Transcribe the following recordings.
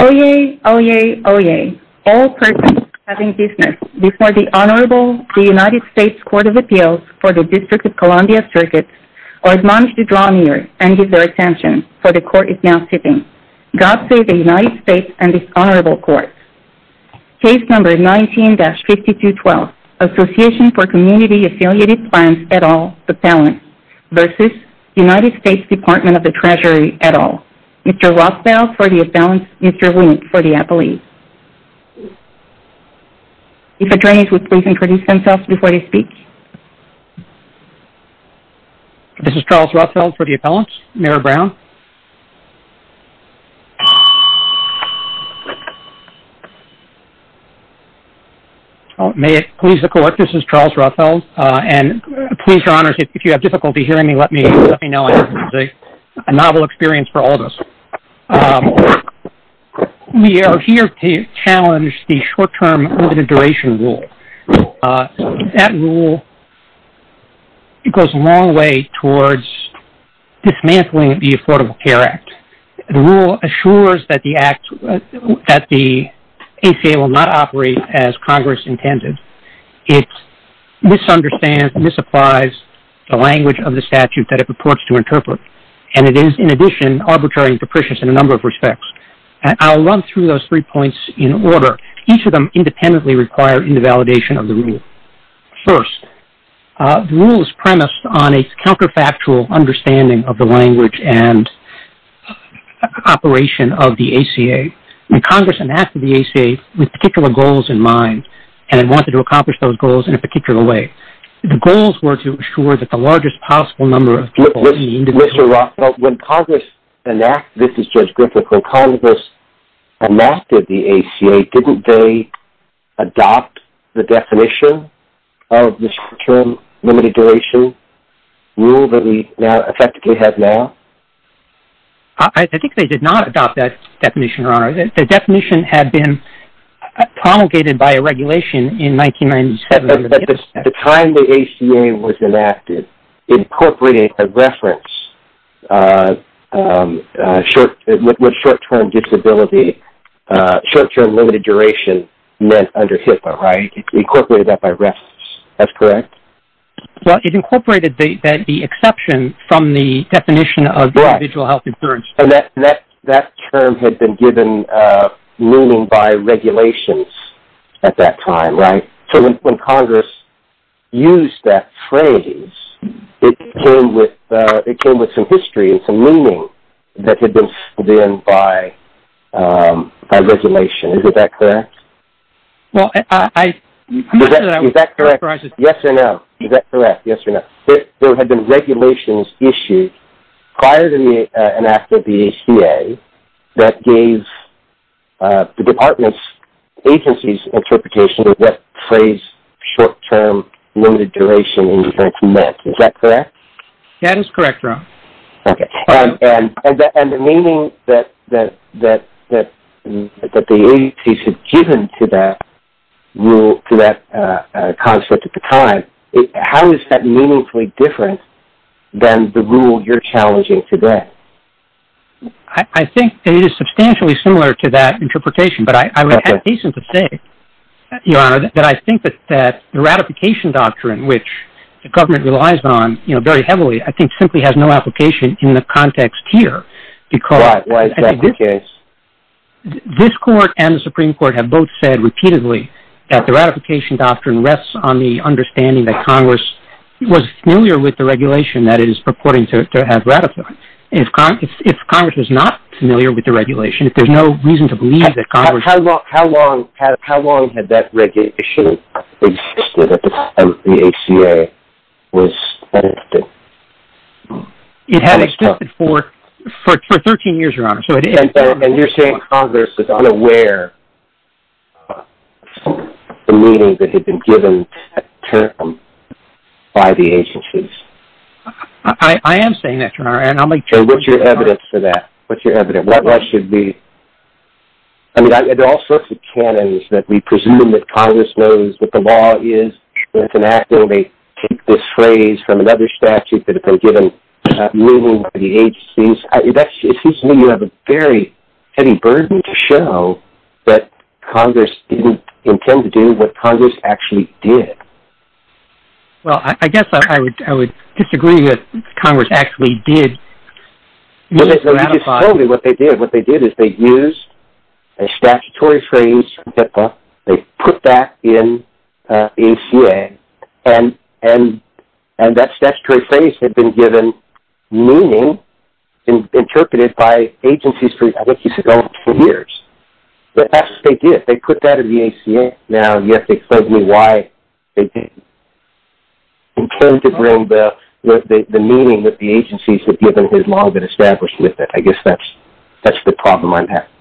Oyez! Oyez! Oyez! All persons having business before the Honorable United States Court of Appeals for the District of Columbia Circuits are admonished to draw near and give their attention, for the Court is now sitting. God save the United States and this Honorable Court. Case No. 19-5212, Association for Community Affiliated Plans et al. v. United States Department of the Treasury et al. Mr. Rothfeld for the appellate. If attorneys would please introduce themselves before they speak. This is Charles Rothfeld for the appellant, Mayor Brown. May it please the Court, this is Charles Rothfeld and please, Your Honors, if you have difficulty hearing me, let me know. It's a novel experience for all of us. We are here to challenge the short-term limited duration rule. That rule goes a long way towards dismantling the Affordable Care Act. The rule assures that the ACA will not operate as Congress intended. It misunderstands and misapplies the language of the statute that it purports to interpret and it is, in addition, arbitrary and capricious in a number of respects. I'll run through those three points in order. Each of them independently require invalidation of the rule. First, the rule is premised on a counterfactual understanding of the language and operation of the ACA. Congress enacted the ACA with particular goals in mind and wanted to accomplish those goals in a particular way. The goals were to assure that the largest possible number of people... Mr. Rothfeld, when Congress enacted the ACA, didn't they adopt the definition of the short-term limited duration rule that we now effectively have now? I think they did not adopt that definition, Your Honor. The definition had been promulgated by a regulation in 1997. At the time the ACA was enacted, incorporating a reference with short-term disability, short-term limited duration, meant under HIPAA, right? Incorporated that by reference. That's correct? Well, it incorporated the exception from the definition of individual health insurance. That term had been given meaning by regulations at that time, right? So when Congress used that phrase, it came with some history and some meaning that had been given by regulation. Is that correct? Is that correct? Yes or no? Is that correct? Yes or no? There had been regulations issued prior to and after the ACA that gave the department's agency's interpretation of that phrase, short-term limited duration, meant. Is that correct? That is correct, Your Honor. Okay. And the meaning that the agencies had in that phrase, is that meaningfully different than the rule you're challenging today? I think it is substantially similar to that interpretation, but I would have reason to say, Your Honor, that I think that the ratification doctrine, which the government relies on very heavily, I think simply has no application in the context here, because this court and the Supreme Court have both said repeatedly that the ratification doctrine rests on the It was familiar with the regulation that it is purporting to have ratification. If Congress was not familiar with the regulation, if there's no reason to believe that Congress... How long had that regulation existed at the time that the ACA was adopted? It had existed for 13 years, Your Honor, so it is... And you're saying Congress was unaware of the meaning that had been given to that term by the agencies? I am saying that, Your Honor, and I'll make sure... So what's your evidence for that? What's your evidence? What should be... I mean, there are all sorts of canons that we presume that Congress knows what the law is, and it's an act where they take this phrase from another statute that had been given meaning by the agencies. It seems to me you have a very heavy burden to show that Congress didn't intend to do what Congress actually did. Well, I guess I would disagree with Congress actually did ratify... No, you just told me what they did. What they did is they used a statutory phrase, they put that in the ACA, and that statutory phrase had been given meaning and interpreted by agencies, I think you said, for years. But that's what they did. They put that in the ACA, and that's exactly why they didn't intend to bring the meaning that the agencies had given his law that established with it. I guess that's the problem I'm having.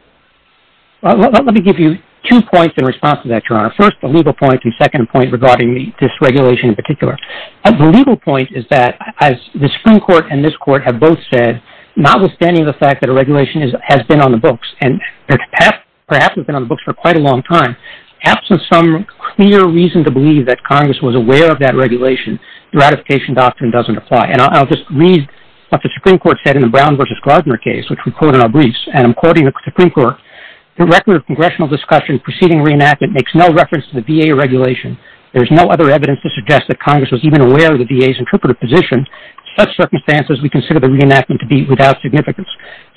Let me give you two points in response to that, Your Honor. First, a legal point, and second point regarding this regulation in particular. A legal point is that, as the Supreme Court and this Court have both said, notwithstanding the fact that a regulation has been on the books, and perhaps it's been on the books for quite a long time, absent some clear reason to believe that Congress was aware of that regulation, the ratification doctrine doesn't apply. And I'll just read what the Supreme Court said in the Brown v. Gardner case, which we quote in our briefs, and I'm quoting the Supreme Court. The record of congressional discussion preceding reenactment makes no reference to the VA regulation. There is no other evidence to suggest that Congress was even aware of the VA's interpretive position. In such circumstances, we consider the reenactment to be without significance.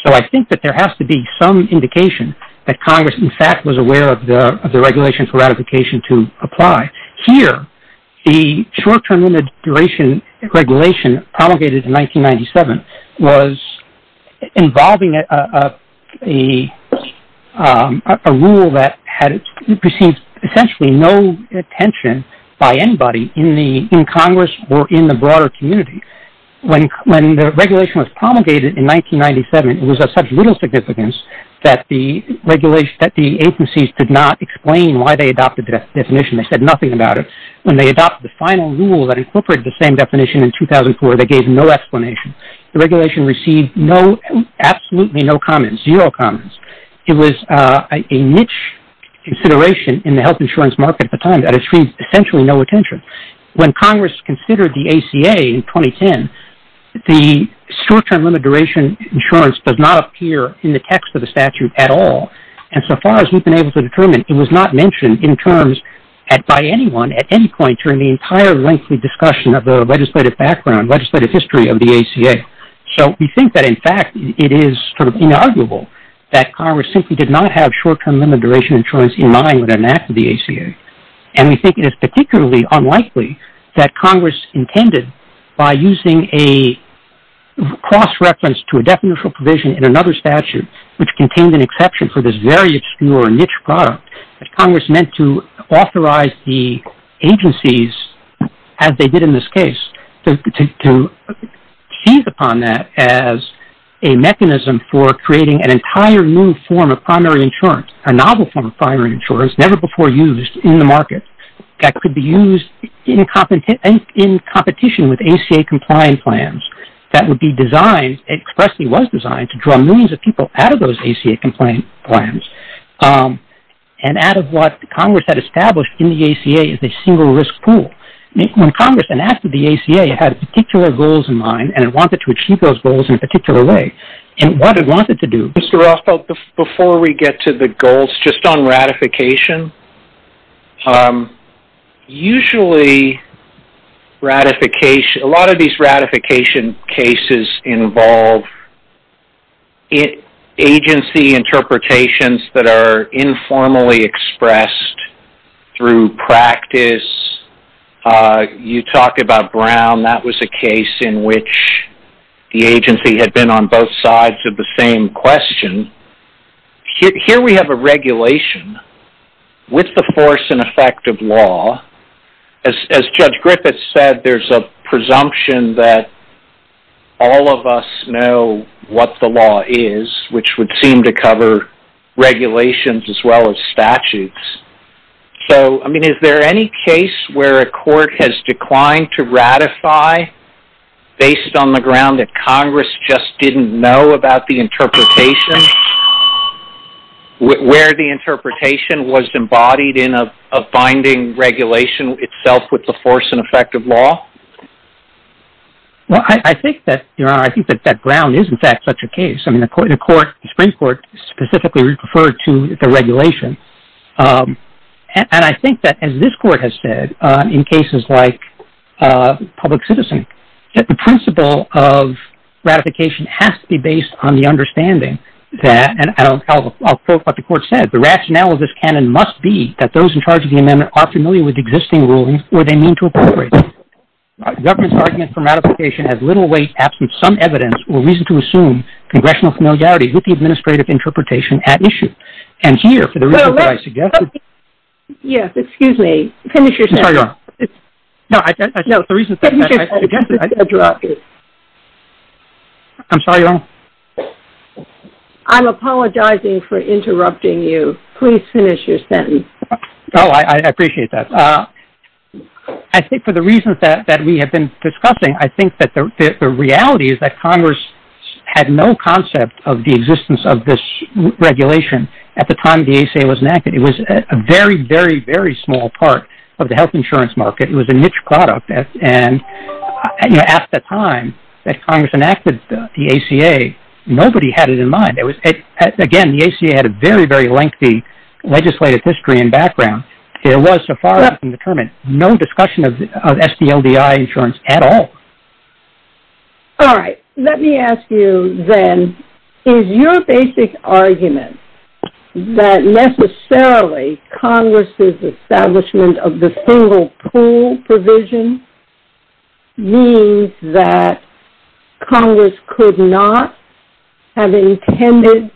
So I think that there has to be some indication that Congress, in fact, was aware of the regulation for ratification to apply. Here, the short-term immigration regulation promulgated in 1997 was involving a rule that had received essentially no attention by anybody in Congress or in the broader community. When the regulation was promulgated in 1997, it was of such little significance that the agencies did not explain why they adopted that definition. They said nothing about it. When they adopted the final rule that incorporated the same definition in 2004, they gave no explanation. The regulation received absolutely no comments, zero comments. It was a niche consideration in the health insurance market at the time that had received essentially no attention. When Congress considered the ACA in 2010, the short-term limited duration insurance does not appear in the text of the statute at all. And so far as we've been able to determine, it was not mentioned by anyone at any point during the entire lengthy discussion of the legislative background, legislative history of the ACA. So we think that, in fact, it is sort of inarguable that Congress simply did not have short-term limited duration insurance in mind when it enacted the ACA. And we think it is particularly unlikely that Congress intended, by using a cross-reference to a definitional provision in another statute, which contained an exception for this very obscure niche product, that Congress meant to authorize the agencies as they did in this case to seize upon that as a mechanism for creating an entire new form of primary insurance, a novel form of primary insurance never before used in the market that could be used in competition with ACA-compliant plans that would be designed and expressly was designed to draw millions of people out of those ACA-compliant plans and out of what Congress had established in the ACA as a single risk pool. When Congress enacted the ACA, it had particular goals in mind and it wanted to achieve those Mr. Rothfeld, before we get to the goals, just on ratification, usually ratification, a lot of these ratification cases involve agency interpretations that are informally expressed through practice. You talked about Brown. That was a case in which the agency had been on both sides of the same question. Here we have a regulation with the force and effect of law. As Judge Griffith said, there's a presumption that all of us know what the law is, which would seem to cover regulations as well as statutes. So, I mean, is there any case where a court has declined to ratify based on the ground that Congress just didn't know about the interpretation, where the interpretation was embodied in a binding regulation itself with the force and effect of law? Well, I think that, Your Honor, I think that that ground is in fact such a case. I mean, the Supreme Court specifically referred to the regulation. And I think that, as this court has said, in cases like Public Citizen, that the principle of ratification has to be based on the understanding that, and I'll quote what the court said, the rationale of this canon must be that those in charge of the amendment are familiar with existing rulings or they mean to appropriate them. Government's argument for ratification has little weight, absent some evidence or reason to assume congressional familiarity with the administrative interpretation at issue. And here, for the reason that I suggested... Yes, excuse me. Finish your sentence. I'm sorry, Your Honor. No, finish your sentence. I'm sorry, Your Honor. I'm apologizing for interrupting you. Please finish your sentence. Oh, I appreciate that. I think for the reasons that we have been discussing, I think that the reality is that at the time the ACA was enacted, it was a very, very, very small part of the health insurance market. It was a niche product. And at the time that Congress enacted the ACA, nobody had it in mind. Again, the ACA had a very, very lengthy legislative history and background. There was, so far as I can determine, no discussion of SDLDI insurance at all. All right. Let me ask you then, is your basic argument that necessarily Congress' establishment of the single pool provision means that Congress could not have intended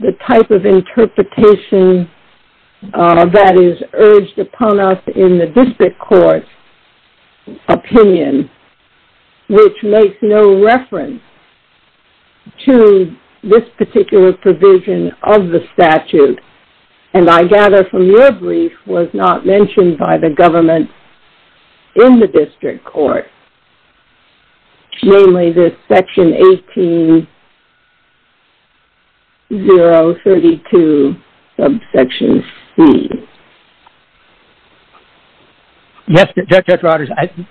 the type of interpretation that is urged upon us in the district court's opinion, which makes no reference to this particular provision of the statute, and I gather from your brief, was not mentioned by the government in the district court, namely the section 18-032 of section C. Yes, Judge Rogers,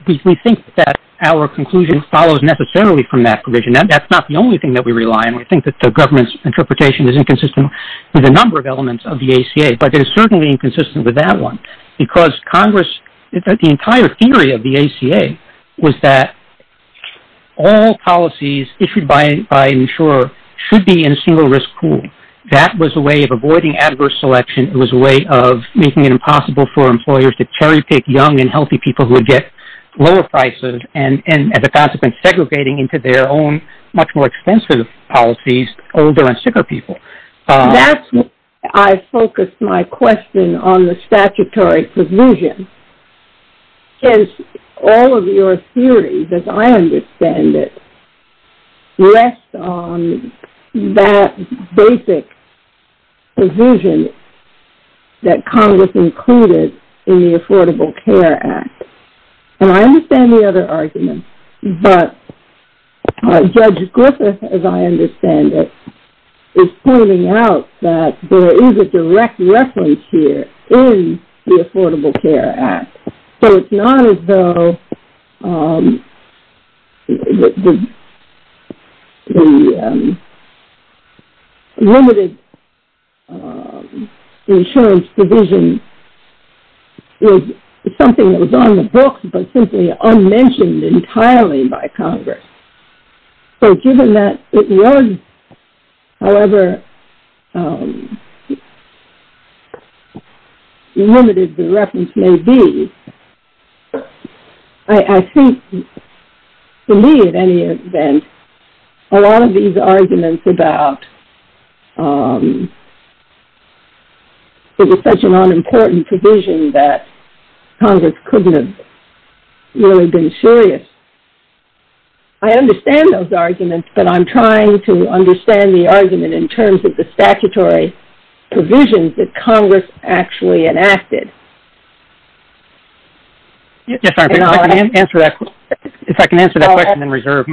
we think that our conclusion follows necessarily from that provision. That's not the only thing that we rely on. We think that the government's interpretation is inconsistent with a number of elements of the ACA, but it is certainly inconsistent with that one because Congress, the entire theory of the ACA was that all policies issued by insurer should be in a single risk pool. That was a way of avoiding adverse selection. It was a way of making it impossible for employers to cherry-pick young and healthy people who would get lower prices and, as a consequence, segregating into their own much more expensive policies older and sicker people. That's why I focused my question on the statutory provision, since all of your theories, as I understand it, rest on that basic provision that Congress included in the Affordable Care Act, and I understand the other arguments, but Judge Griffith, as I understand it, is pointing out that there is a direct reference here in the Affordable Care Act. So it's not as though the limited insurance provision is something that was on the books but simply unmentioned entirely by Congress. So given that it was, however limited the reference may be, I think to me at any event, a lot of these arguments about it was such an unimportant provision that Congress couldn't have really been serious. I understand those arguments, but I'm trying to understand the argument in terms of the statutory provision that Congress actually enacted. If I can answer that question in reserve.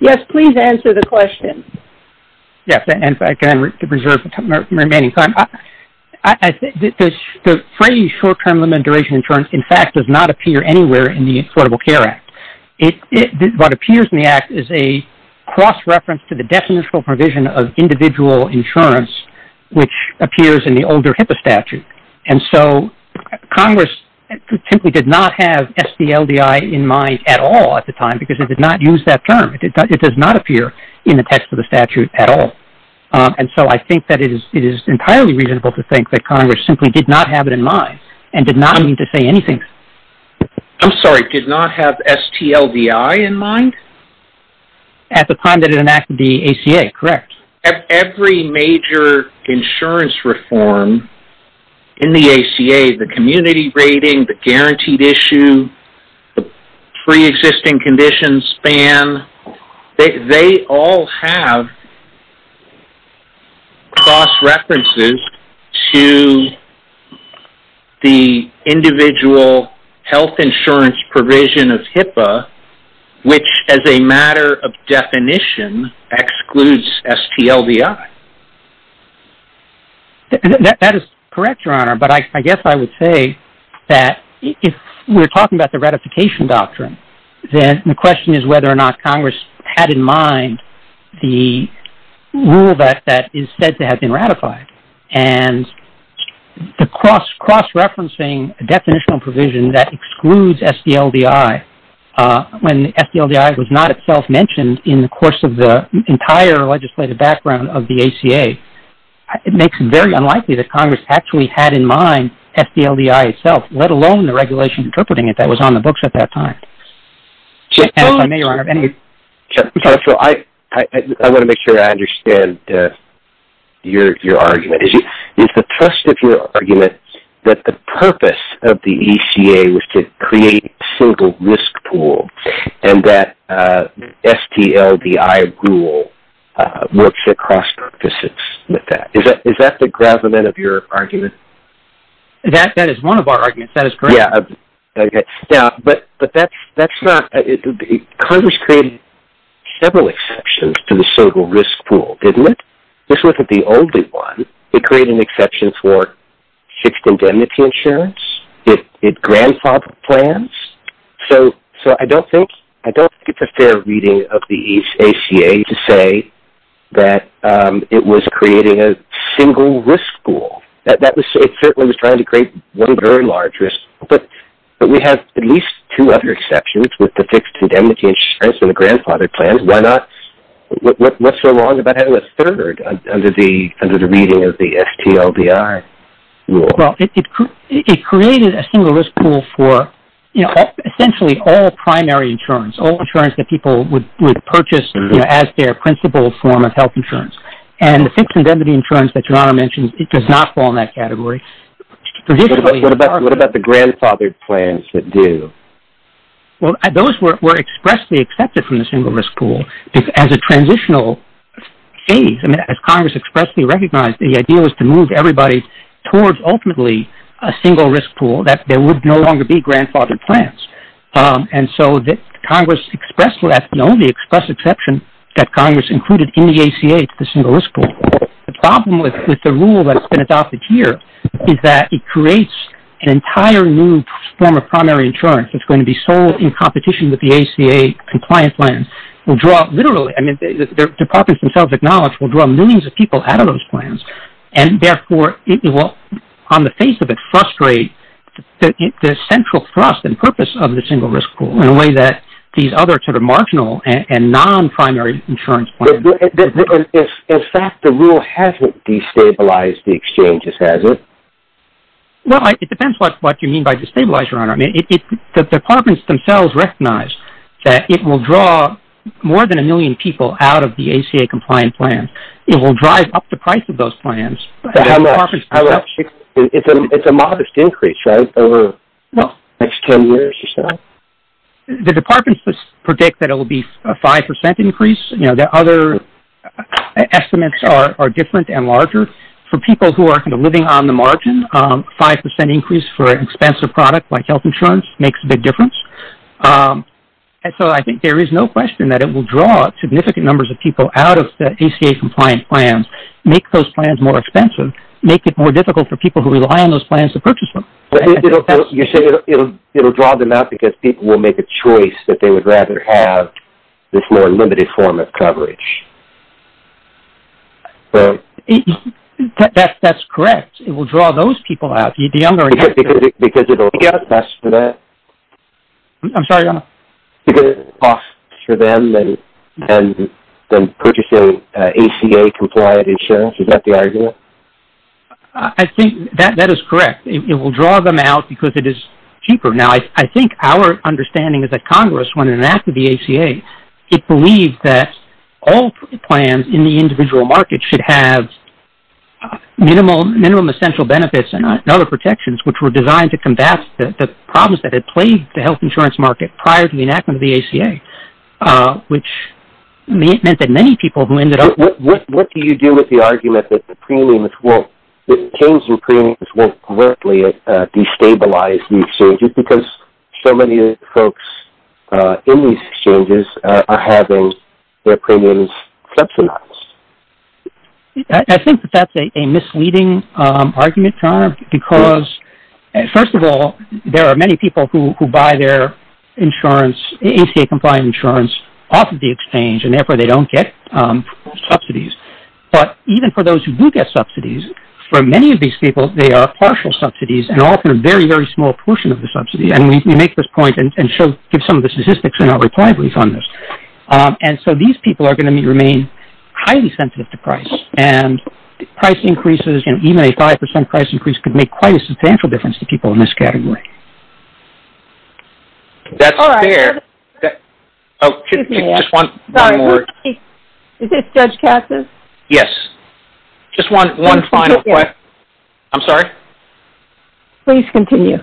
Yes, please answer the question. The phrase short-term limited duration insurance, in fact, does not appear anywhere in the Affordable Care Act. What appears in the Act is a cross-reference to the definitional provision of individual insurance, which appears in the older HIPAA statute. So Congress simply did not have SDLDI in mind at all at the time because it did not use that term. It does not appear in the text of the statute at all. And so I think that it is entirely reasonable to think that Congress simply did not have it in mind and did not mean to say anything. I'm sorry, did not have SDLDI in mind? At the time that it enacted the ACA, correct. Every major insurance reform in the ACA, the community rating, the guaranteed issue, the pre-existing condition span, they all have cross-references to the individual health insurance provision of HIPAA, which as a matter of definition excludes SDLDI. That is correct, Your Honor, but I guess I would say that if we're talking about the ratification doctrine, then the question is whether or not Congress had in mind the rule that is said to have been ratified. And the cross-referencing definitional provision that excludes SDLDI, when SDLDI was not itself mentioned in the course of the entire legislative background of the ACA, it makes it very unlikely that Congress actually had in mind SDLDI itself, let alone the regulation interpreting it that was on the books at that time. I want to make sure I understand your argument. Is the trust of your argument that the purpose of the ACA was to create a single risk pool and that SDLDI rule works across purposes with that? Is that the gravamen of your argument? That is one of our arguments, that is correct. Congress created several exceptions to the single risk pool, didn't it? This wasn't the only one. It created an exception for fixed indemnity insurance. It grandfathered plans. So I don't think it's a fair reading of the ACA to say that it was creating a single risk pool. It certainly was trying to create one very large risk pool, but we have at least two other exceptions with the fixed indemnity insurance and the grandfathered plans. What's so wrong about having a third under the reading of the SDLDI rule? It created a single risk pool for essentially all primary insurance, all insurance that people would purchase as their principal form of health insurance. And the fixed indemnity insurance that Your Honor mentioned does not fall in that category. What about the grandfathered plans that do? Those were expressly accepted from the single risk pool as a transitional phase. I mean, as Congress expressly recognized, the idea was to move everybody towards ultimately a single risk pool that there would no longer be grandfathered plans. And so Congress expressed the exception that Congress included in the ACA to the single risk pool. The problem with the rule that's been adopted here is that it creates an entire new form of primary insurance that's going to be sold in competition with the ACA compliant plans. We'll draw literally, I mean, the departments themselves acknowledge, we'll draw millions of people out of those plans. And therefore, on the face of it, frustrate the central thrust and purpose of the single risk pool in a way that these other sort of marginal and non-primary insurance plans. In fact, the rule hasn't destabilized the exchanges, has it? Well, it depends what you mean by destabilized, Your Honor. The departments themselves recognize that it will draw more than a million people out of the ACA compliant plans. It will drive up the price of those plans. How much? It's a modest increase, right? Over the next 10 years or so? The departments predict that it will be a 5% increase. The other estimates are different and larger. For people who are living on the margin, a 5% increase for an expensive product like health insurance makes a big difference. And so I think there is no question that it will draw significant numbers of people out of the ACA compliant plans, make those plans more expensive, make it more difficult for people who rely on those plans to purchase them. You say it will draw them out because people will make a choice that they would rather have this more limited form of coverage. That's correct. It will draw those people out. Because it will get us for that? I'm sorry, Your Honor. Because it will cost for them than purchasing ACA compliant insurance? Is that the argument? I think that is correct. It will draw them out because it is cheaper. Now I think our understanding is that Congress, when it enacted the ACA, it believed that all plans in the individual market should have minimum essential benefits and other protections which were designed to combat the problems that had plagued the health insurance market prior to the enactment of the ACA, which meant that many people who ended up... What do you do with the argument that the premiums won't, destabilize these exchanges because so many folks in these exchanges are having their premiums subsidized? I think that that's a misleading argument, Your Honor, because first of all, there are many people who buy their insurance, ACA compliant insurance, off of the exchange and therefore they don't get subsidies. But even for those who do get subsidies, for many of these people, they are partial subsidies and often a very, very small portion of the subsidy. And we make this point and give some of the statistics in our reply brief on this. And so these people are going to remain highly sensitive to price. And price increases, even a 5% price increase, could make quite a substantial difference to people in this category. That's fair. Excuse me. Is this Judge Cassis? Yes. Just one final question. I'm sorry? Please continue.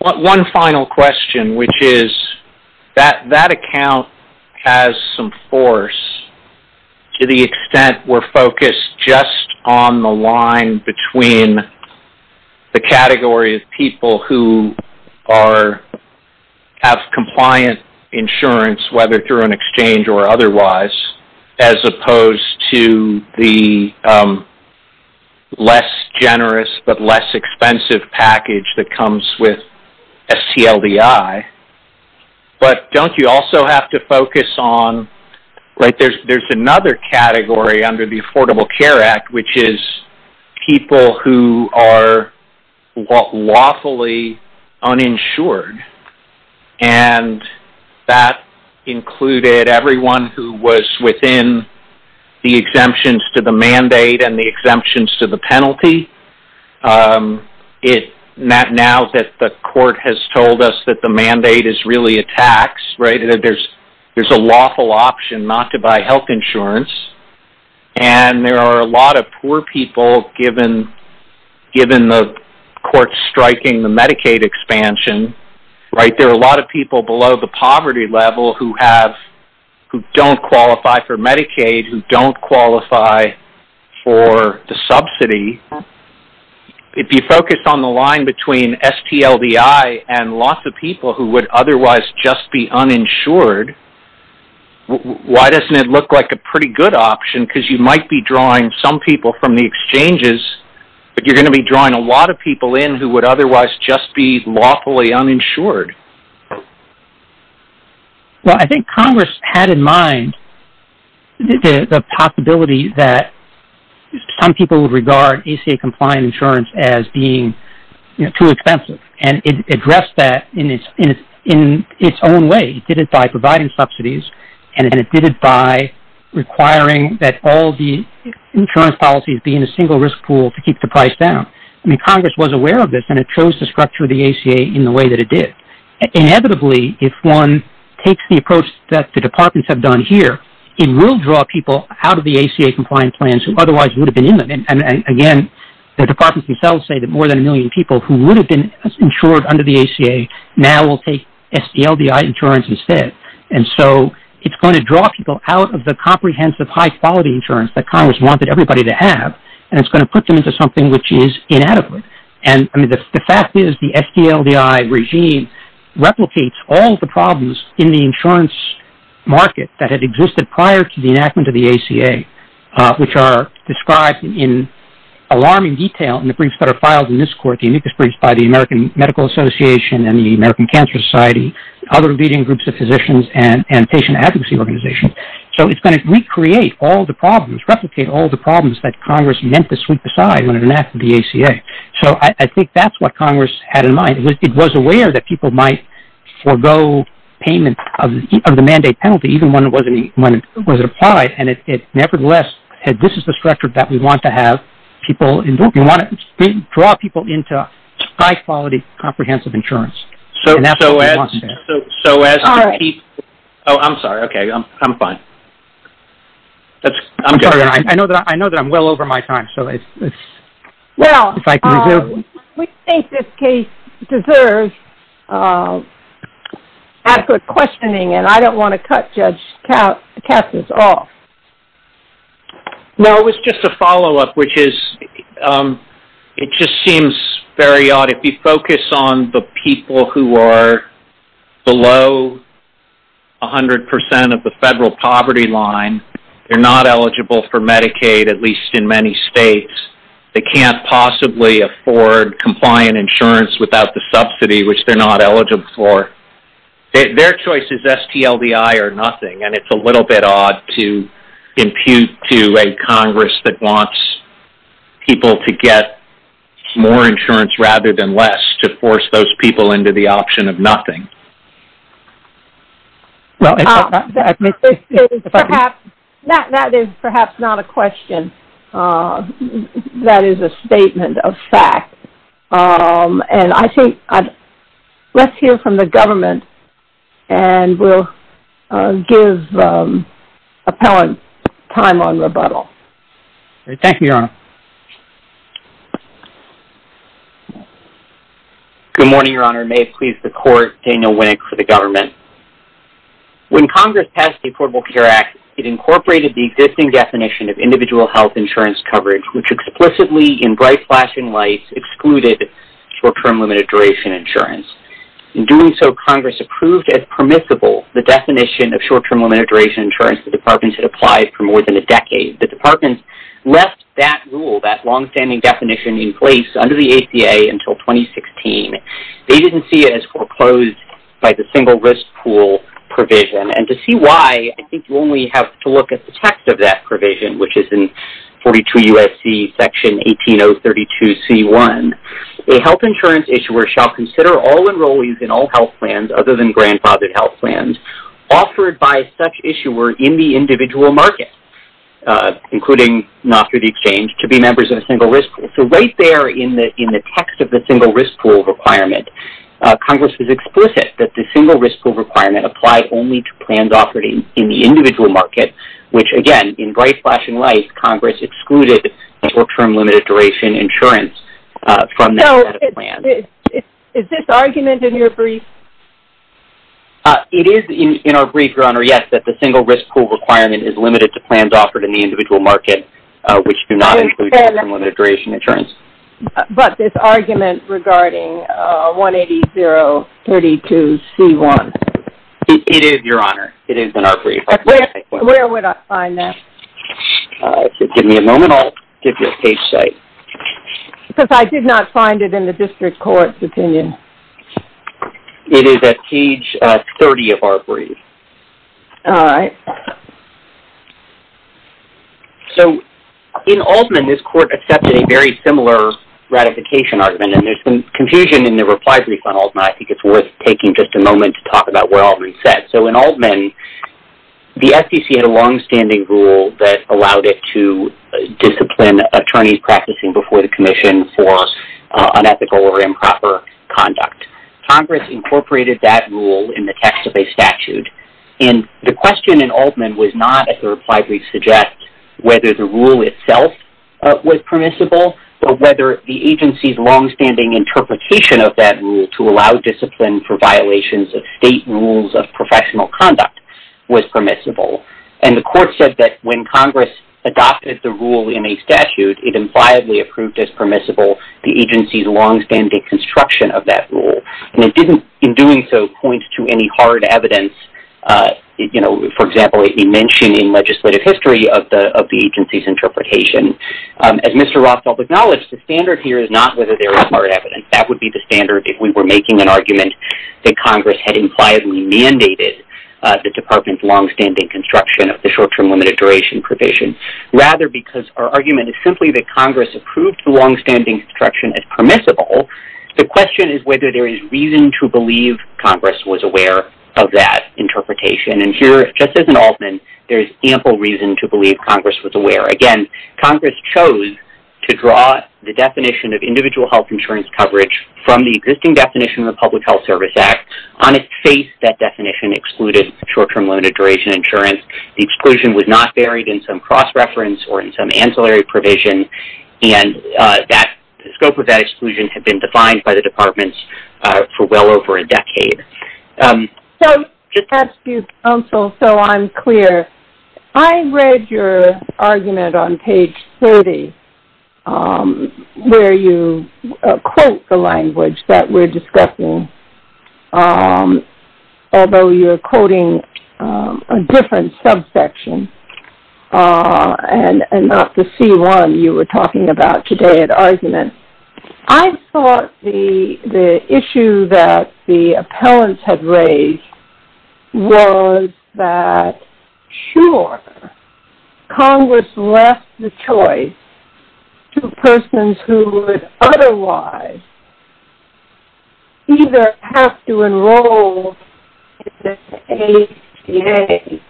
One final question, which is, that account has some force to the extent we're focused just on the line between the category of people who have compliant insurance, whether through an exchange or otherwise, as opposed to the less generous but less expensive package that comes with STLDI. But don't you also have to focus on, like, there's another category under the Affordable Care Act, which is people who are lawfully uninsured. And that included everyone who was within the exemptions to the mandate and the exemptions to the penalty. Now that the court has told us that the mandate is really a tax, right, that there's a lawful option not to buy health insurance, and there are a lot of poor people, given the court striking the Medicaid expansion, right, there are a lot of people below the poverty level who don't qualify for Medicaid, who don't qualify for the subsidy. If you focus on the line between STLDI and lots of people who would otherwise just be uninsured, why doesn't it look like a pretty good option? Because you might be drawing some people from the exchanges, but you're going to be drawing a lot of people in who would otherwise just be lawfully uninsured. Well, I think Congress had in mind the possibility that some people would regard ACA-compliant insurance as being too expensive, and it addressed that in its own way. It did it by providing subsidies, and it did it by requiring that all the insurance policies be in a single risk pool to keep the price down. I mean, Congress was aware of this, and it chose to structure the ACA in the way that it did. Inevitably, if one takes the approach that the departments have done here, it will draw people out of the ACA-compliant plans who otherwise would have been in them. And again, the departments themselves say that more than a million people who would have been insured under the ACA now will take SDLDI insurance instead. And so it's going to draw people out of the comprehensive, high-quality insurance that Congress wanted everybody to have, and it's going to put them into something which is inadequate. And the fact is the SDLDI regime replicates all the problems in the insurance market that had existed prior to the enactment of the ACA, which are described in alarming detail in the briefs that are filed in this court, the amicus briefs by the American Medical Association and the American Cancer Society, other leading groups of physicians and patient advocacy organizations. So it's going to recreate all the problems, replicate all the problems that Congress meant to sweep aside when it enacted the ACA. So I think that's what Congress had in mind. It was aware that people might forego payment of the mandate penalty, even when it was applied, and it nevertheless said this is the structure that we want to have people in. We want to draw people into high-quality, comprehensive insurance. And that's what we want to do. So as to keep... Oh, I'm sorry. Okay. I'm fine. I'm sorry. I know that I'm well over my time, so if I can resume. Well, we think this case deserves adequate questioning, and I don't want to cut Judge Cassius off. No, it was just a follow-up, which is it just seems very odd. If you focus on the people who are below 100% of the federal poverty line, they're not eligible for Medicaid, at least in many states. They can't possibly afford compliant insurance without the subsidy, which they're not eligible for. Their choice is STLDI or nothing, and it's a little bit odd to impute to a Congress that wants people to get more insurance rather than less to force those people into the option of nothing. That is perhaps not a question. That is a statement of fact. And I think let's hear from the government, and we'll give appellant time on rebuttal. Thank you, Your Honor. Good morning, Your Honor. May it please the Court, Daniel Winnick for the government. When Congress passed the Affordable Care Act, it incorporated the existing definition of individual health insurance coverage, which explicitly in bright flashing lights excluded short-term limited-duration insurance. In doing so, Congress approved as permissible the definition of short-term limited-duration insurance that departments had applied for more than a decade. The departments left that rule, that long-standing definition, in place under the ACA until 2016. They didn't see it as foreclosed by the single-risk pool provision, and to see why, I think you only have to look at the text of that provision, which is in 42 U.S.C. Section 18032c.1. A health insurance issuer shall consider all enrollees in all health plans other than grandfathered health plans offered by such issuer in the individual market, including not through the exchange, to be members of a single-risk pool. So right there in the text of the single-risk pool requirement, Congress is explicit that the single-risk pool requirement applies only to plans offered in the individual market, which again, in bright flashing lights, Congress excluded short-term limited-duration insurance from that set of plans. So is this argument in your brief? It is in our brief, Your Honor, yes, that the single-risk pool requirement is limited to plans offered in the individual market, which do not include short-term limited-duration insurance. But this argument regarding 180.032c.1? It is, Your Honor. It is in our brief. Where would I find that? Give me a moment. I'll give you a page site. Because I did not find it in the district court's opinion. All right. So in Altman, this court accepted a very similar ratification argument, and there's some confusion in the reply brief on Altman. I think it's worth taking just a moment to talk about where Altman is set. So in Altman, the SEC had a longstanding rule that allowed it to discipline attorneys practicing before the commission for unethical or improper conduct. Congress incorporated that rule in the text of a statute. And the question in Altman was not, as the reply brief suggests, whether the rule itself was permissible, but whether the agency's longstanding interpretation of that rule to allow discipline for violations of state rules of professional conduct was permissible. And the court said that when Congress adopted the rule in a statute, it impliedly approved as permissible the agency's longstanding construction of that rule. And it didn't, in doing so, point to any hard evidence. For example, it didn't mention in legislative history of the agency's interpretation. As Mr. Rothfeld acknowledged, the standard here is not whether there is hard evidence. That would be the standard if we were making an argument that Congress had impliedly mandated the department's longstanding construction of the short-term limited duration provision. Rather, because our argument is simply that Congress approved the longstanding construction as permissible, the question is whether there is reason to believe Congress was aware of that interpretation. And here, just as in Altman, there is ample reason to believe Congress was aware. Again, Congress chose to draw the definition of individual health insurance coverage from the existing definition of the Public Health Service Act. On its face, that definition excluded short-term limited duration insurance. The exclusion was not buried in some cross-reference or in some ancillary provision. And the scope of that exclusion had been defined by the departments for well over a decade. So, just to ask you, counsel, so I'm clear. I read your argument on page 30, where you quote the language that we're discussing, although you're quoting a different subsection and not the C1 you were talking about today at argument. I thought the issue that the appellants had raised was that, sure, Congress left the choice to persons who would otherwise either have to enroll in the ATA.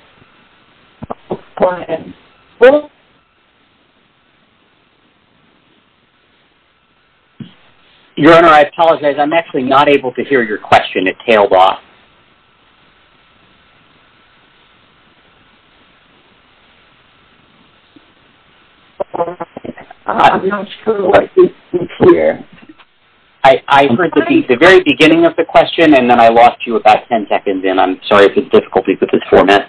Your Honor, I apologize. I'm actually not able to hear your question at tailrock. I'm not sure what you're saying here. I heard the very beginning of the question, and then I lost you about ten seconds in. I'm sorry for the difficulty with this format.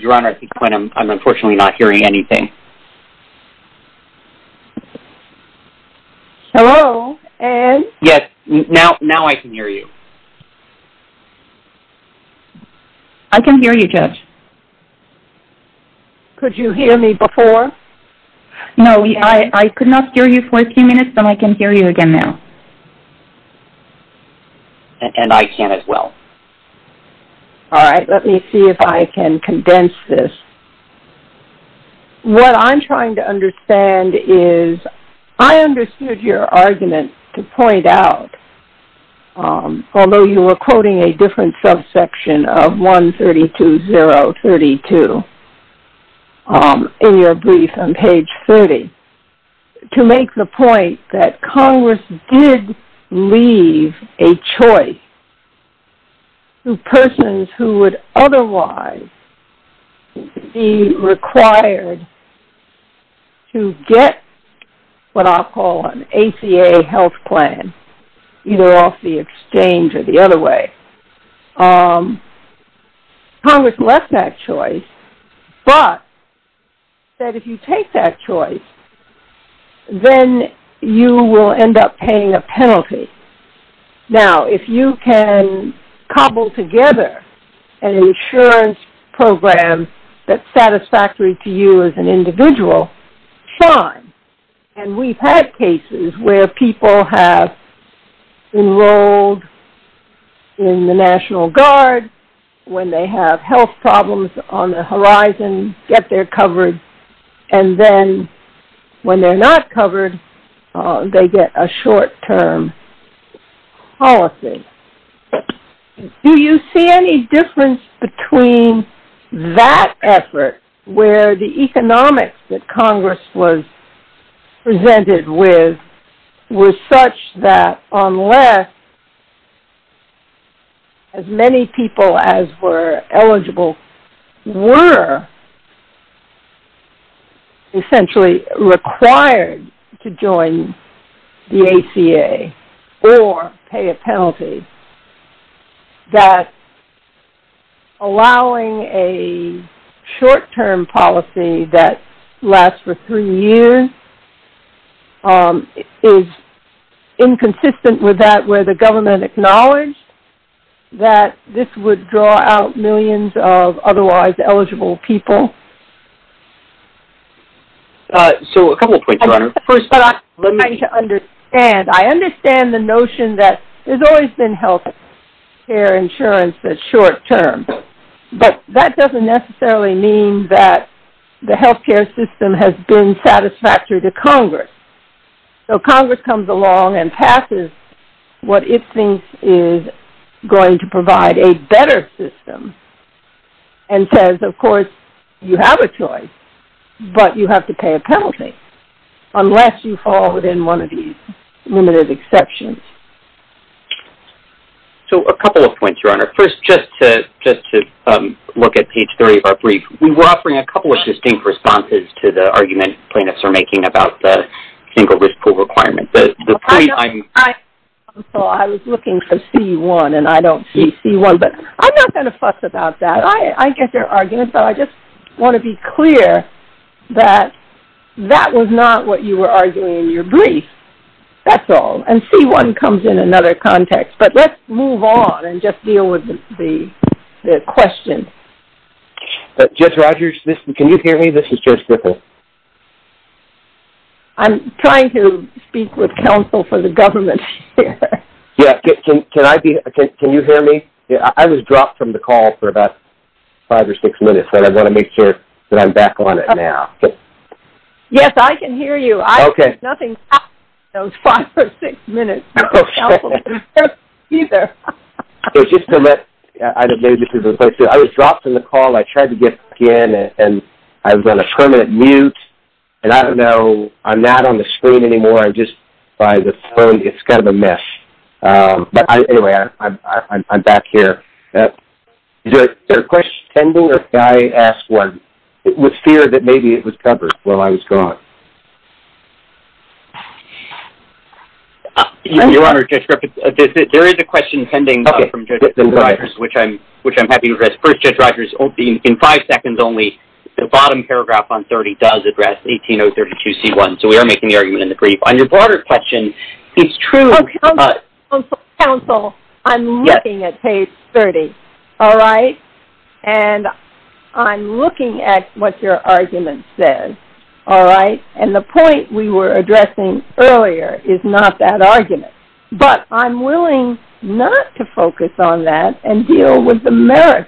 Your Honor, at this point, I'm unfortunately not hearing anything. Hello, Ed? Yes, now I can hear you. I can hear you, Judge. Could you hear me before? No, I could not hear you for a few minutes, but I can hear you again now. And I can as well. All right, let me see if I can condense this. What I'm trying to understand is I understood your argument to point out, although you were quoting a different subsection of 132032 in your brief on page 30, to make the point that Congress did leave a choice to persons who would otherwise be required to get what I'll call an ACA health plan, either off the exchange or the other way. Congress left that choice, but said if you take that choice, then you will end up paying a penalty. Now, if you can cobble together an insurance program that's satisfactory to you as an individual, fine. And we've had cases where people have enrolled in the National Guard when they have health problems on the horizon, get their coverage, and then when they're not covered, they get a short-term policy. Do you see any difference between that effort where the economics that Congress was presented with was such that unless as many people as were eligible were essentially required to join the ACA or pay a penalty, that allowing a short-term policy that lasts for three years is inconsistent with that where the government acknowledged that this would draw out millions of otherwise eligible people? So a couple of points, Your Honor. First, I'm trying to understand. I understand the notion that there's always been health care insurance that's short-term, but that doesn't necessarily mean that the health care system has been satisfactory to Congress. So Congress comes along and passes what it thinks is going to provide a better system and says, of course, you have a choice, but you have to pay a penalty unless you fall within one of these limited exceptions. So a couple of points, Your Honor. First, just to look at page three of our brief, we were offering a couple of distinct responses to the argument plaintiffs are making about the single risk pool requirement. I was looking for C1, and I don't see C1. But I'm not going to fuss about that. I get their argument, but I just want to be clear that that was not what you were arguing in your brief. That's all. And C1 comes in another context. But let's move on and just deal with the question. Judge Rogers, can you hear me? This is Judge Griffin. I'm trying to speak with counsel for the government here. Yeah, can you hear me? I was dropped from the call for about five or six minutes, and I want to make sure that I'm back on it now. Yes, I can hear you. Okay. Nothing happened in those five or six minutes. Okay. Counsel didn't hear me either. It's just that I was dropped from the call, and I tried to get back in, and I was on a permanent mute, and I don't know. I'm not on the screen anymore. I'm just by the phone. It's kind of a mess. But anyway, I'm back here. Is there a question pending, or can I ask one with fear that maybe it was covered while I was gone? Your Honor, Judge Griffin, there is a question pending from Judge Rogers, which I'm happy to address. First, Judge Rogers, in five seconds only, the bottom paragraph on 30 does address 18032C1, so we are making the argument in the brief. On your broader question, it's true. Counsel, I'm looking at page 30, all right? And I'm looking at what your argument says, all right? And the point we were addressing earlier is not that argument. But I'm willing not to focus on that and deal with the merit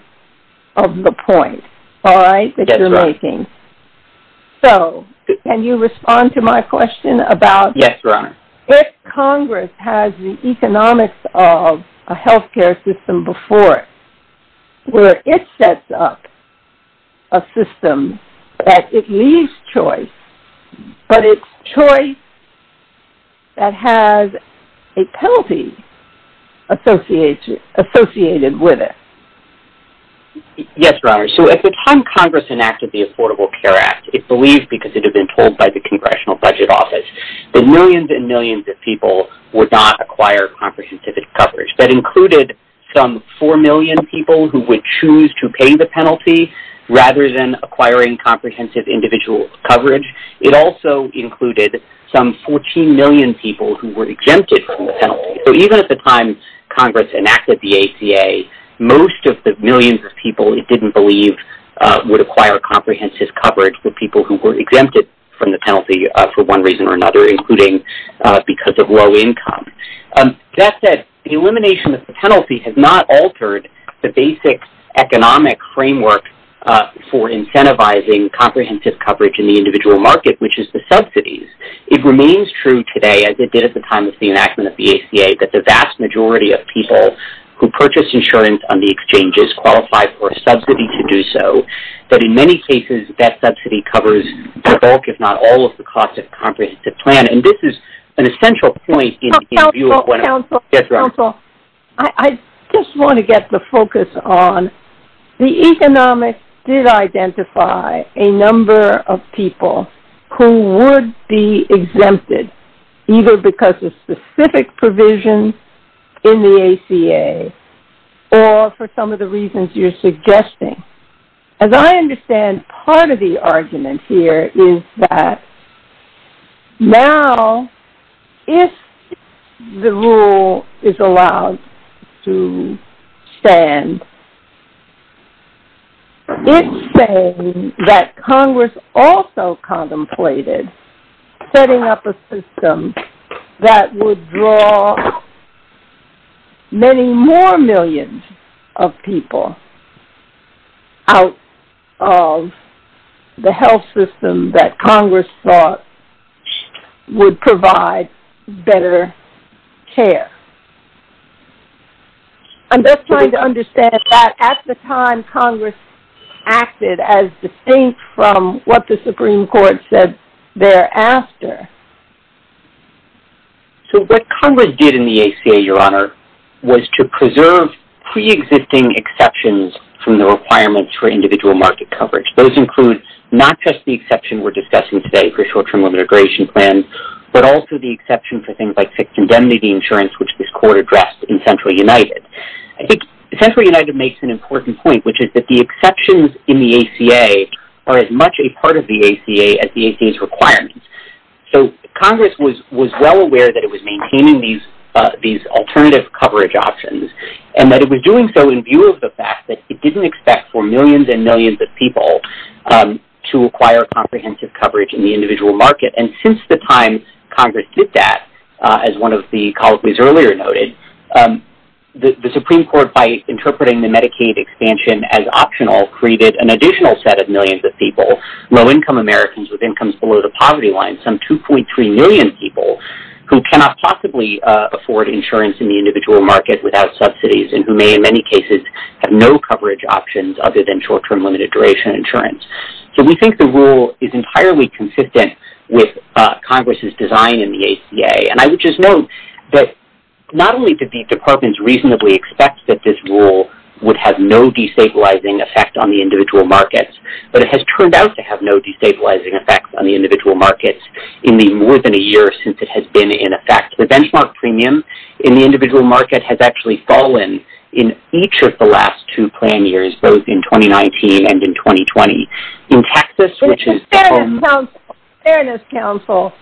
of the point, all right, that you're making. Yes, Your Honor. So can you respond to my question about if Congress has the economics of a health care system before it, where it sets up a system that it leaves choice, but it's choice that has a penalty associated with it? Yes, Your Honor. So at the time Congress enacted the Affordable Care Act, it believed, because it had been told by the Congressional Budget Office, that millions and millions of people would not acquire comprehensive coverage. That included some 4 million people who would choose to pay the penalty rather than acquiring comprehensive individual coverage. It also included some 14 million people who were exempted from the penalty. So even at the time Congress enacted the ACA, most of the millions of people it didn't believe would acquire comprehensive coverage, the people who were exempted from the penalty for one reason or another, including because of low income. That said, the elimination of the penalty has not altered the basic economic framework for incentivizing comprehensive coverage in the individual market, which is the subsidies. It remains true today, as it did at the time of the enactment of the ACA, that the vast majority of people who purchase insurance on the exchanges qualify for a subsidy to do so. But in many cases, that subsidy covers the bulk, if not all, of the cost of a comprehensive plan. And this is an essential point in view of when... Counsel, Counsel, Counsel, I just want to get the focus on, the economics did identify a number of people who would be exempted, either because of specific provisions in the ACA, or for some of the reasons you're suggesting. As I understand, part of the argument here is that now, if the rule is allowed to stand, it's saying that Congress also contemplated setting up a system that would draw many more millions of people out of the health system that Congress thought would provide better care. I'm just trying to understand that at the time, Congress acted as distinct from what the Supreme Court said thereafter. So what Congress did in the ACA, Your Honor, was to preserve pre-existing exceptions from the requirements for individual market coverage. Those include not just the exception we're discussing today for short-term immigration plans, but also the exception for things like fixed indemnity insurance, which this court addressed in Central United. I think Central United makes an important point, which is that the exceptions in the ACA are as much a part of the ACA as the ACA's requirements. So Congress was well aware that it was maintaining these alternative coverage options, and that it was doing so in view of the fact that it didn't expect for millions and millions of people to acquire comprehensive coverage in the individual market. And since the time Congress did that, as one of the colleagues earlier noted, the Supreme Court, by interpreting the Medicaid expansion as optional, created an additional set of millions of people, low-income Americans with incomes below the poverty line, some 2.3 million people who cannot possibly afford insurance in the individual market without subsidies, and who may in many cases have no coverage options other than short-term limited duration insurance. So we think the rule is entirely consistent with Congress's design in the ACA. And I would just note that not only did the departments reasonably expect that this rule would have no destabilizing effect on the individual markets, but it has turned out to have no destabilizing effect on the individual markets in the more than a year since it has been in effect. The benchmark premium in the individual market has actually fallen in each of the last two plan years, both in 2019 and in 2020. In Texas, which is... Fairness Council,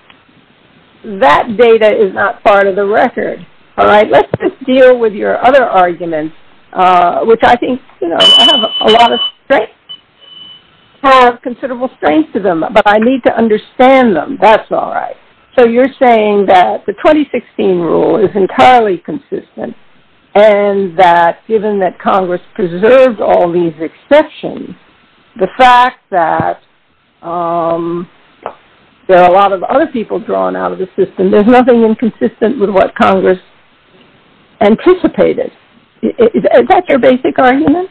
that data is not part of the record. All right, let's just deal with your other arguments, which I think have a lot of strength, have considerable strength to them, but I need to understand them. That's all right. So you're saying that the 2016 rule is entirely consistent, and that given that Congress preserved all these exceptions, the fact that there are a lot of other people drawn out of the system, there's nothing inconsistent with what Congress anticipated. Is that your basic argument?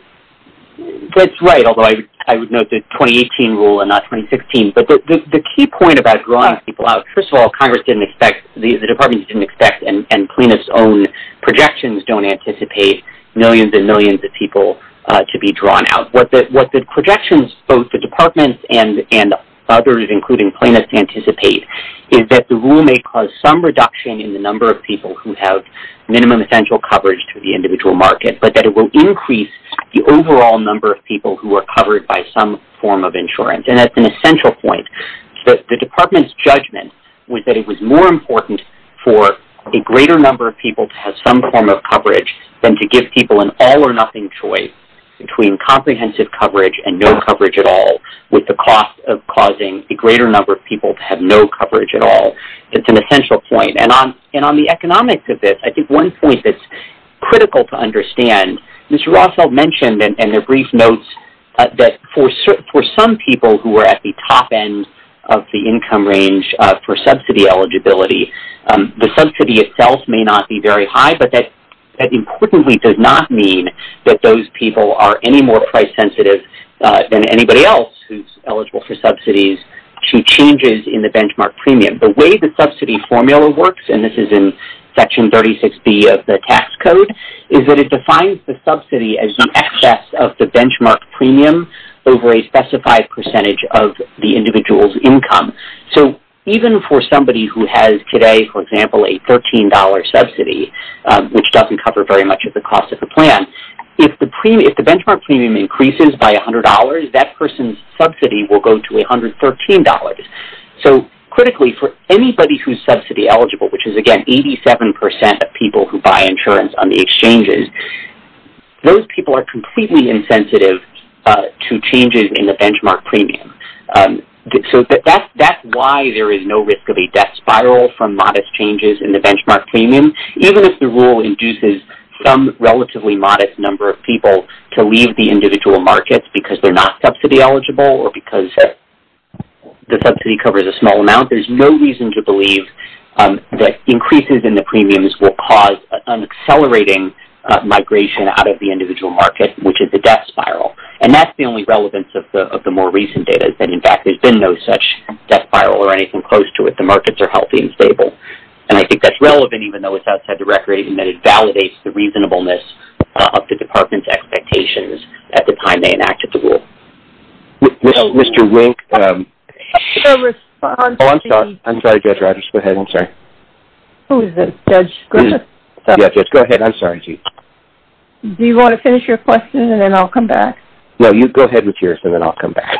That's right, although I would note the 2018 rule and not 2016. But the key point about drawing people out, first of all, Congress didn't expect, the departments didn't expect, and Plaintiff's own projections don't anticipate millions and millions of people to be drawn out. What the projections, both the departments and others, including Plaintiffs, anticipate is that the rule may cause some reduction in the number of people who have minimum essential coverage to the individual market, but that it will increase the overall number of people who are covered by some form of insurance, and that's an essential point. The department's judgment was that it was more important for a greater number of people to have some form of coverage than to give people an all-or-nothing choice between comprehensive coverage and no coverage at all, with the cost of causing a greater number of people to have no coverage at all. It's an essential point. And on the economics of this, I think one point that's critical to understand, Mr. Rothfeld mentioned in a brief note that for some people who are at the top end of the income range for subsidy eligibility, the subsidy itself may not be very high, but that importantly does not mean that those people are any more price sensitive than anybody else who's eligible for subsidies to changes in the benchmark premium. The way the subsidy formula works, and this is in Section 36B of the tax code, is that it defines the subsidy as the excess of the benchmark premium over a specified percentage of the individual's income. So even for somebody who has today, for example, a $13 subsidy, which doesn't cover very much of the cost of the plan, if the benchmark premium increases by $100, that person's subsidy will go to $113. So critically, for anybody who's subsidy eligible, which is, again, 87% of people who buy insurance on the exchanges, those people are completely insensitive to changes in the benchmark premium. So that's why there is no risk of a death spiral from modest changes in the benchmark premium, even if the rule induces some relatively modest number of people to leave the individual markets because they're not subsidy eligible or because the subsidy covers a small amount. There's no reason to believe that increases in the premiums will cause an accelerating migration out of the individual market, which is a death spiral. And that's the only relevance of the more recent data, is that in fact there's been no such death spiral or anything close to it. The markets are healthy and stable. And I think that's relevant, even though it's outside the record, in that it validates the reasonableness of the department's expectations at the time they enacted the rule. Mr. Wink, I'm sorry, Judge Rogers. Go ahead. I'm sorry. Who is this, Judge? Yeah, Judge, go ahead. I'm sorry. Do you want to finish your question, and then I'll come back? No, you go ahead with yours, and then I'll come back.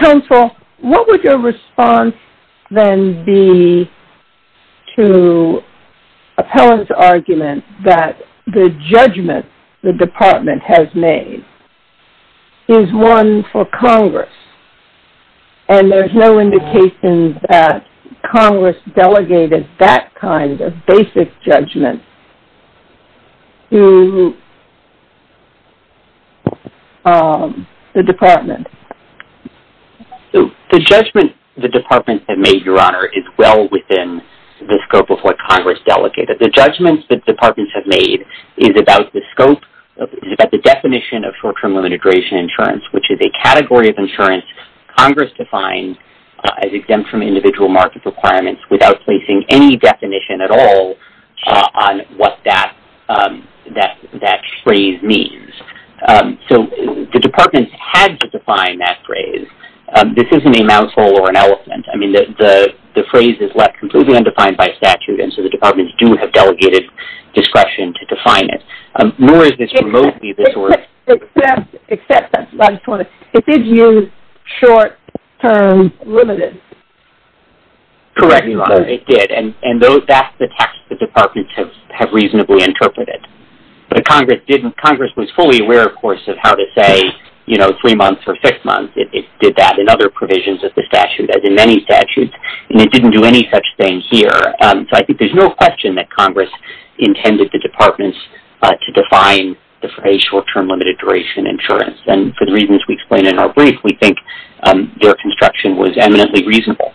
Counsel, what would your response then be to Appellant's argument that the judgment the department has made is one for Congress, and there's no indication that Congress delegated that kind of basic judgment to the department? The judgment the departments have made, Your Honor, is well within the scope of what Congress delegated. The judgment the departments have made is about the scope, is about the definition of short-term limited duration insurance, which is a category of insurance Congress defined as exempt from individual market requirements without placing any definition at all on what that phrase means. So the departments had to define that phrase. This isn't a mouse hole or an elephant. I mean, the phrase is left completely undefined by statute, and so the departments do have delegated discretion to define it. Nor is this remotely this work. Except, I just want to, it did use short-term limited. Correct, Your Honor, it did. And that's the text the departments have reasonably interpreted. But Congress was fully aware, of course, of how to say three months or six months. It did that in other provisions of the statute, as in many statutes, and it didn't do any such thing here. So I think there's no question that Congress intended the departments to define a short-term limited duration insurance. And for the reasons we explained in our brief, we think their construction was eminently reasonable.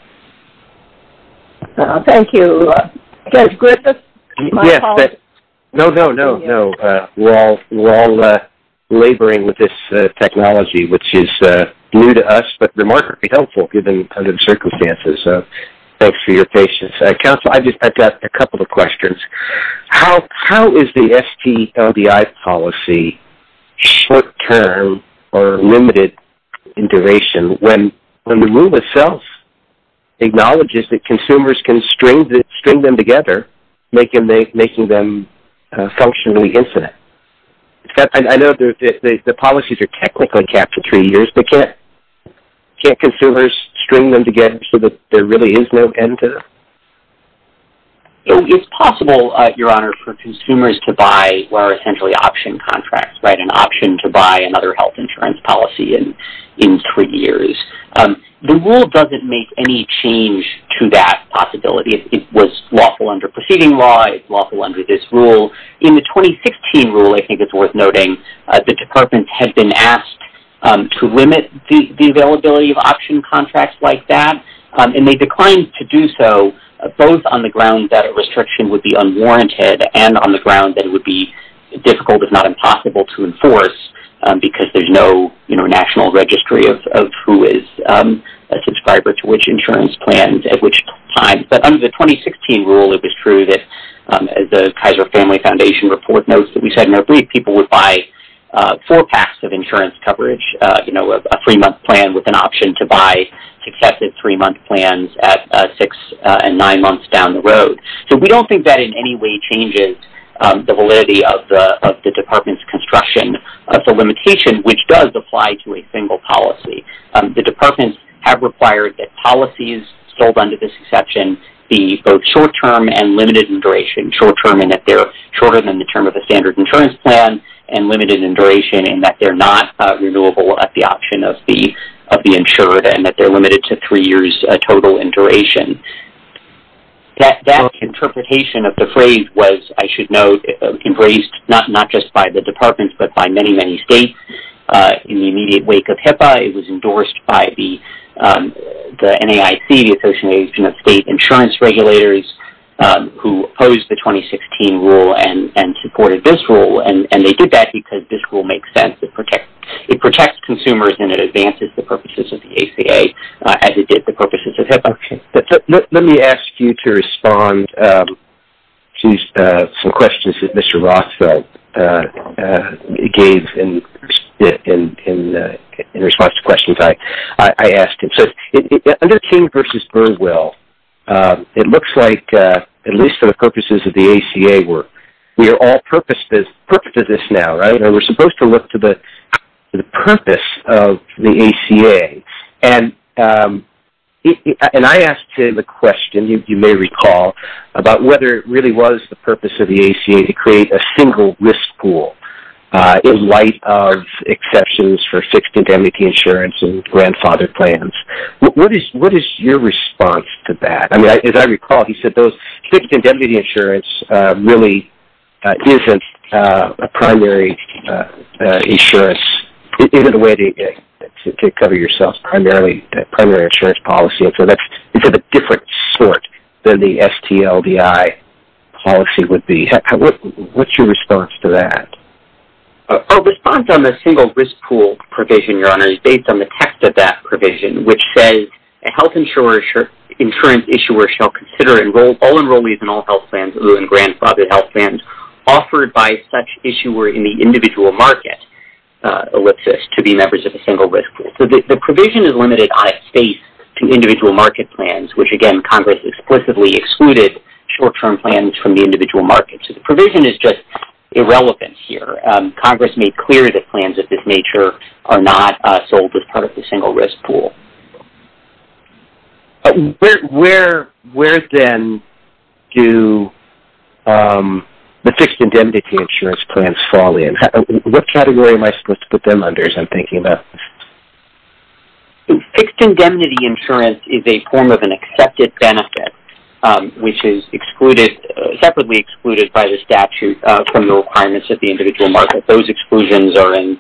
Thank you. Judge Griffith, my apologies. No, no, no, no. We're all laboring with this technology, which is new to us, but remarkably helpful given the circumstances. Thanks for your patience. Counsel, I've got a couple of questions. How is the STLBI policy short-term or limited in duration when the rule itself acknowledges that consumers can string them together, making them functionally infinite? I know the policies are technically capped to three years, but can't consumers string them together so that there really is no end to them? It's possible, Your Honor, for consumers to buy what are essentially option contracts, an option to buy another health insurance policy in three years. The rule doesn't make any change to that possibility. It was lawful under preceding law. It's lawful under this rule. In the 2016 rule, I think it's worth noting, the departments had been asked to limit the availability of option contracts like that, and they declined to do so both on the ground that a restriction would be unwarranted and on the ground that it would be difficult, if not impossible, to enforce, because there's no national registry of who is a subscriber to which insurance plan at which time. But under the 2016 rule, it was true that the Kaiser Family Foundation report notes that we said in our brief people would buy four packs of insurance coverage, a three-month plan with an option to buy successive three-month plans at six and nine months down the road. So we don't think that in any way changes the validity of the department's construction of the limitation, which does apply to a single policy. The departments have required that policies sold under this exception be both short-term and limited in duration, short-term in that they're shorter than the term of a standard insurance plan and limited in duration in that they're not renewable at the option of the insured and that they're limited to three years total in duration. That interpretation of the phrase was, I should note, embraced not just by the departments but by many, many states. In the immediate wake of HIPAA, it was endorsed by the NAIC, the Association of State Insurance Regulators, who opposed the 2016 rule and supported this rule, and they did that because this rule makes sense. It protects consumers and it advances the purposes of the ACA as it did the purposes of HIPAA. Let me ask you to respond to some questions that Mr. Rothfeld gave in response to questions I asked him. Under King v. Burwell, it looks like, at least for the purposes of the ACA, we are all put to this now, right? We're supposed to look to the purpose of the ACA. And I asked him a question, you may recall, about whether it really was the purpose of the ACA to create a single risk pool in light of exceptions for fixed indemnity insurance and grandfather plans. What is your response to that? As I recall, he said fixed indemnity insurance really isn't a primary insurance, isn't a way to cover yourself, a primary insurance policy. So it's of a different sort than the STLDI policy would be. What's your response to that? Our response on the single risk pool provision, Your Honor, is based on the text of that provision, which says a health insurance issuer shall consider all enrollees in all health plans or in grandfathered health plans offered by such issuer in the individual market, ellipsis, to be members of a single risk pool. So the provision is limited on its space to individual market plans, which again Congress explicitly excluded short-term plans from the individual market. So the provision is just irrelevant here. Congress made clear that plans of this nature are not sold as part of the single risk pool. Where then do the fixed indemnity insurance plans fall in? What category am I supposed to put them under as I'm thinking about this? Fixed indemnity insurance is a form of an accepted benefit, which is separately excluded by the statute from the requirements of the individual market. Those exclusions are in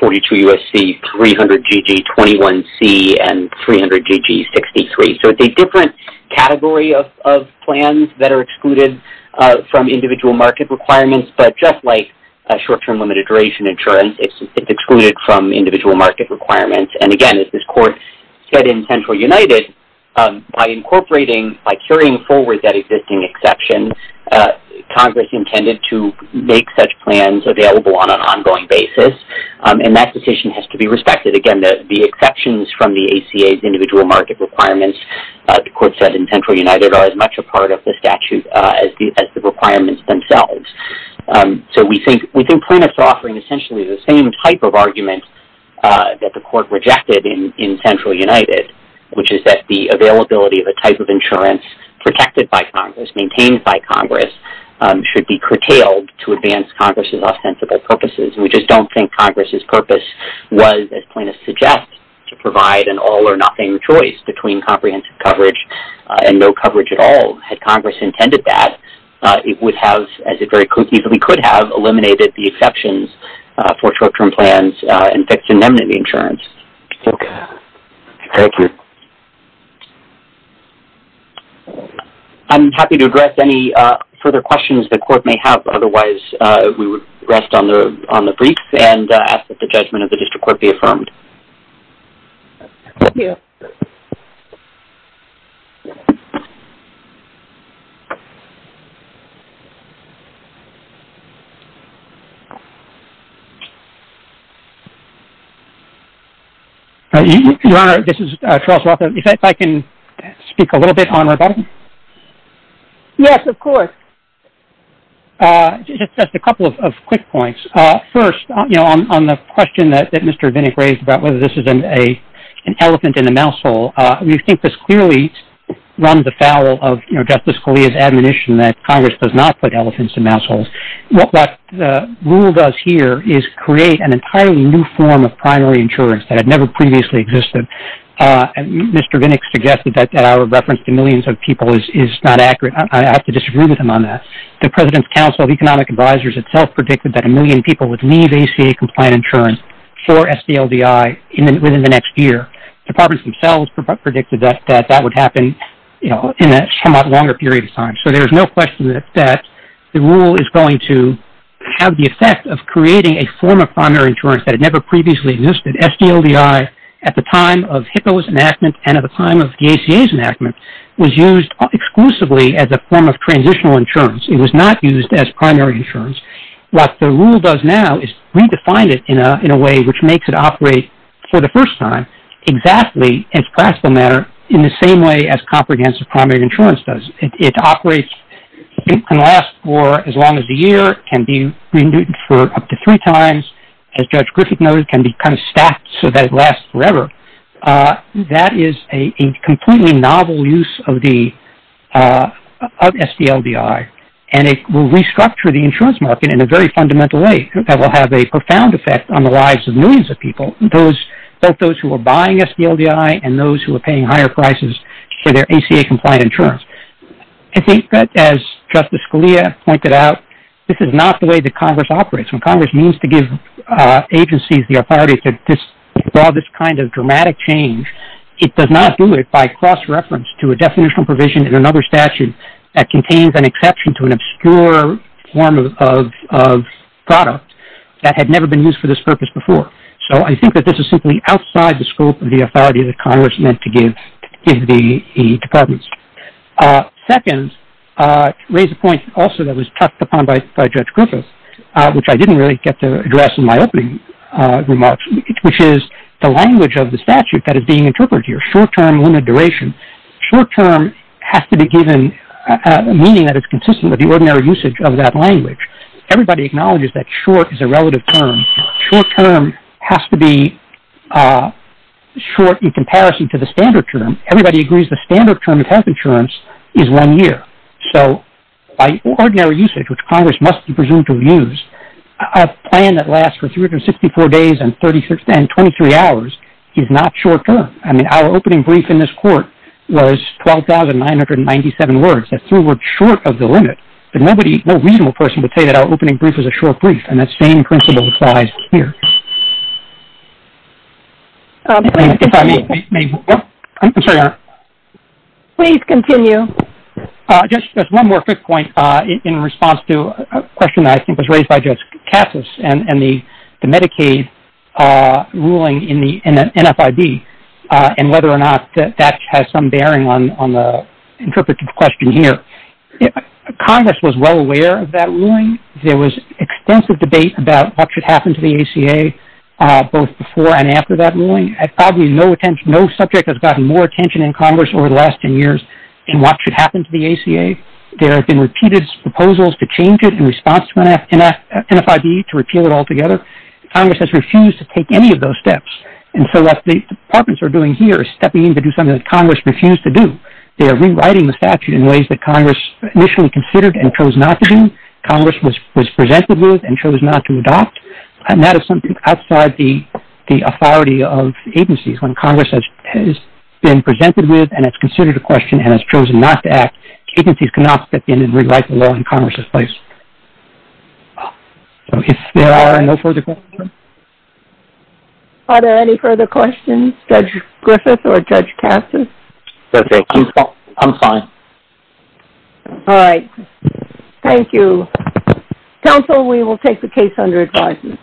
42 U.S.C., 300GG21C, and 300GG63. So it's a different category of plans that are excluded from individual market requirements, but just like short-term limited duration insurance, it's excluded from individual market requirements. And again, as this court said in Central United, by incorporating, by carrying forward that existing exception, Congress intended to make such plans available on an ongoing basis, and that decision has to be respected. Again, the exceptions from the ACA's individual market requirements, the court said in Central United, are as much a part of the statute as the requirements themselves. So we think plaintiffs are offering essentially the same type of argument that the court rejected in Central United, which is that the availability of a type of insurance protected by Congress, maintained by Congress, should be curtailed to advance Congress's ostensible purposes. We just don't think Congress's purpose was, as plaintiffs suggest, to provide an all-or-nothing choice between comprehensive coverage and no coverage at all. Had Congress intended that, it would have, as it very easily could have, eliminated the exceptions for short-term plans and fixed indemnity insurance. Okay. Thank you. I'm happy to address any further questions the court may have. Otherwise, we would rest on the brief and ask that the judgment of the district court be affirmed. Thank you. Your Honor, this is Charles Roth. If I can speak a little bit on rebuttal? Yes, of course. Just a couple of quick points. First, on the question that Mr. Vinnick raised about whether this is an elephant in a mouse hole, we think this clearly runs afoul of Justice Scalia's admonition that Congress does not put elephants in mouse holes. What the rule does here is create an entirely new form of primary insurance that had never previously existed. Mr. Vinnick suggested that our reference to millions of people is not accurate. I have to disagree with him on that. The President's Council of Economic Advisers itself predicted that a million people would leave ACA-compliant insurance for SDLDI within the next year. Departments themselves predicted that that would happen in a somewhat longer period of time. So there's no question that the rule is going to have the effect of creating a form of primary insurance that had never previously existed. SDLDI, at the time of HIPAA's enactment and at the time of the ACA's enactment, was used exclusively as a form of transitional insurance. It was not used as primary insurance. What the rule does now is redefine it in a way which makes it operate for the first time exactly in its classical manner in the same way as comprehensive primary insurance does. It can last for as long as a year. It can be renewed for up to three times. As Judge Griffith noted, it can be kind of stacked so that it lasts forever. That is a completely novel use of SDLDI. It will restructure the insurance market in a very fundamental way that will have a profound effect on the lives of millions of people, both those who are buying SDLDI and those who are paying higher prices for their ACA-compliant insurance. I think that, as Justice Scalia pointed out, this is not the way that Congress operates. When Congress means to give agencies the authority to draw this kind of dramatic change, it does not do it by cross-reference to a definitional provision in another statute that contains an exception to an obscure form of product that had never been used for this purpose before. I think that this is simply outside the scope of the authority that Congress meant to give the departments. Second, to raise a point also that was touched upon by Judge Griffith, which I didn't really get to address in my opening remarks, which is the language of the statute that is being interpreted here, short-term limited duration. Short-term has to be given a meaning that is consistent with the ordinary usage of that language. Everybody acknowledges that short is a relative term. Short-term has to be short in comparison to the standard term. Everybody agrees the standard term of health insurance is one year. So by ordinary usage, which Congress must presume to use, a plan that lasts for 364 days and 23 hours is not short-term. Our opening brief in this court was 12,997 words. That's three words short of the limit. No reasonable person would say that our opening brief is a short brief, and that same principle applies here. Please continue. Just one more quick point in response to a question that I think was raised by Judge Cassis and the Medicaid ruling in the NFIB and whether or not that has some bearing on the interpreted question here. Congress was well aware of that ruling. There was extensive debate about what should happen to the ACA both before and after that ruling. No subject has gotten more attention in Congress over the last 10 years in what should happen to the ACA. There have been repeated proposals to change it in response to NFIB, to repeal it altogether. Congress has refused to take any of those steps, and so what the departments are doing here is stepping in to do something that Congress refused to do. They are rewriting the statute in ways that Congress initially considered and chose not to do, Congress was presented with and chose not to adopt, and that is something outside the authority of agencies. When Congress has been presented with and it's considered a question and has chosen not to act, agencies cannot step in and rewrite the law in Congress's place. So if there are no further questions. Are there any further questions, Judge Griffith or Judge Cassis? I'm fine. All right. Thank you. Counsel, we will take the case under advisement.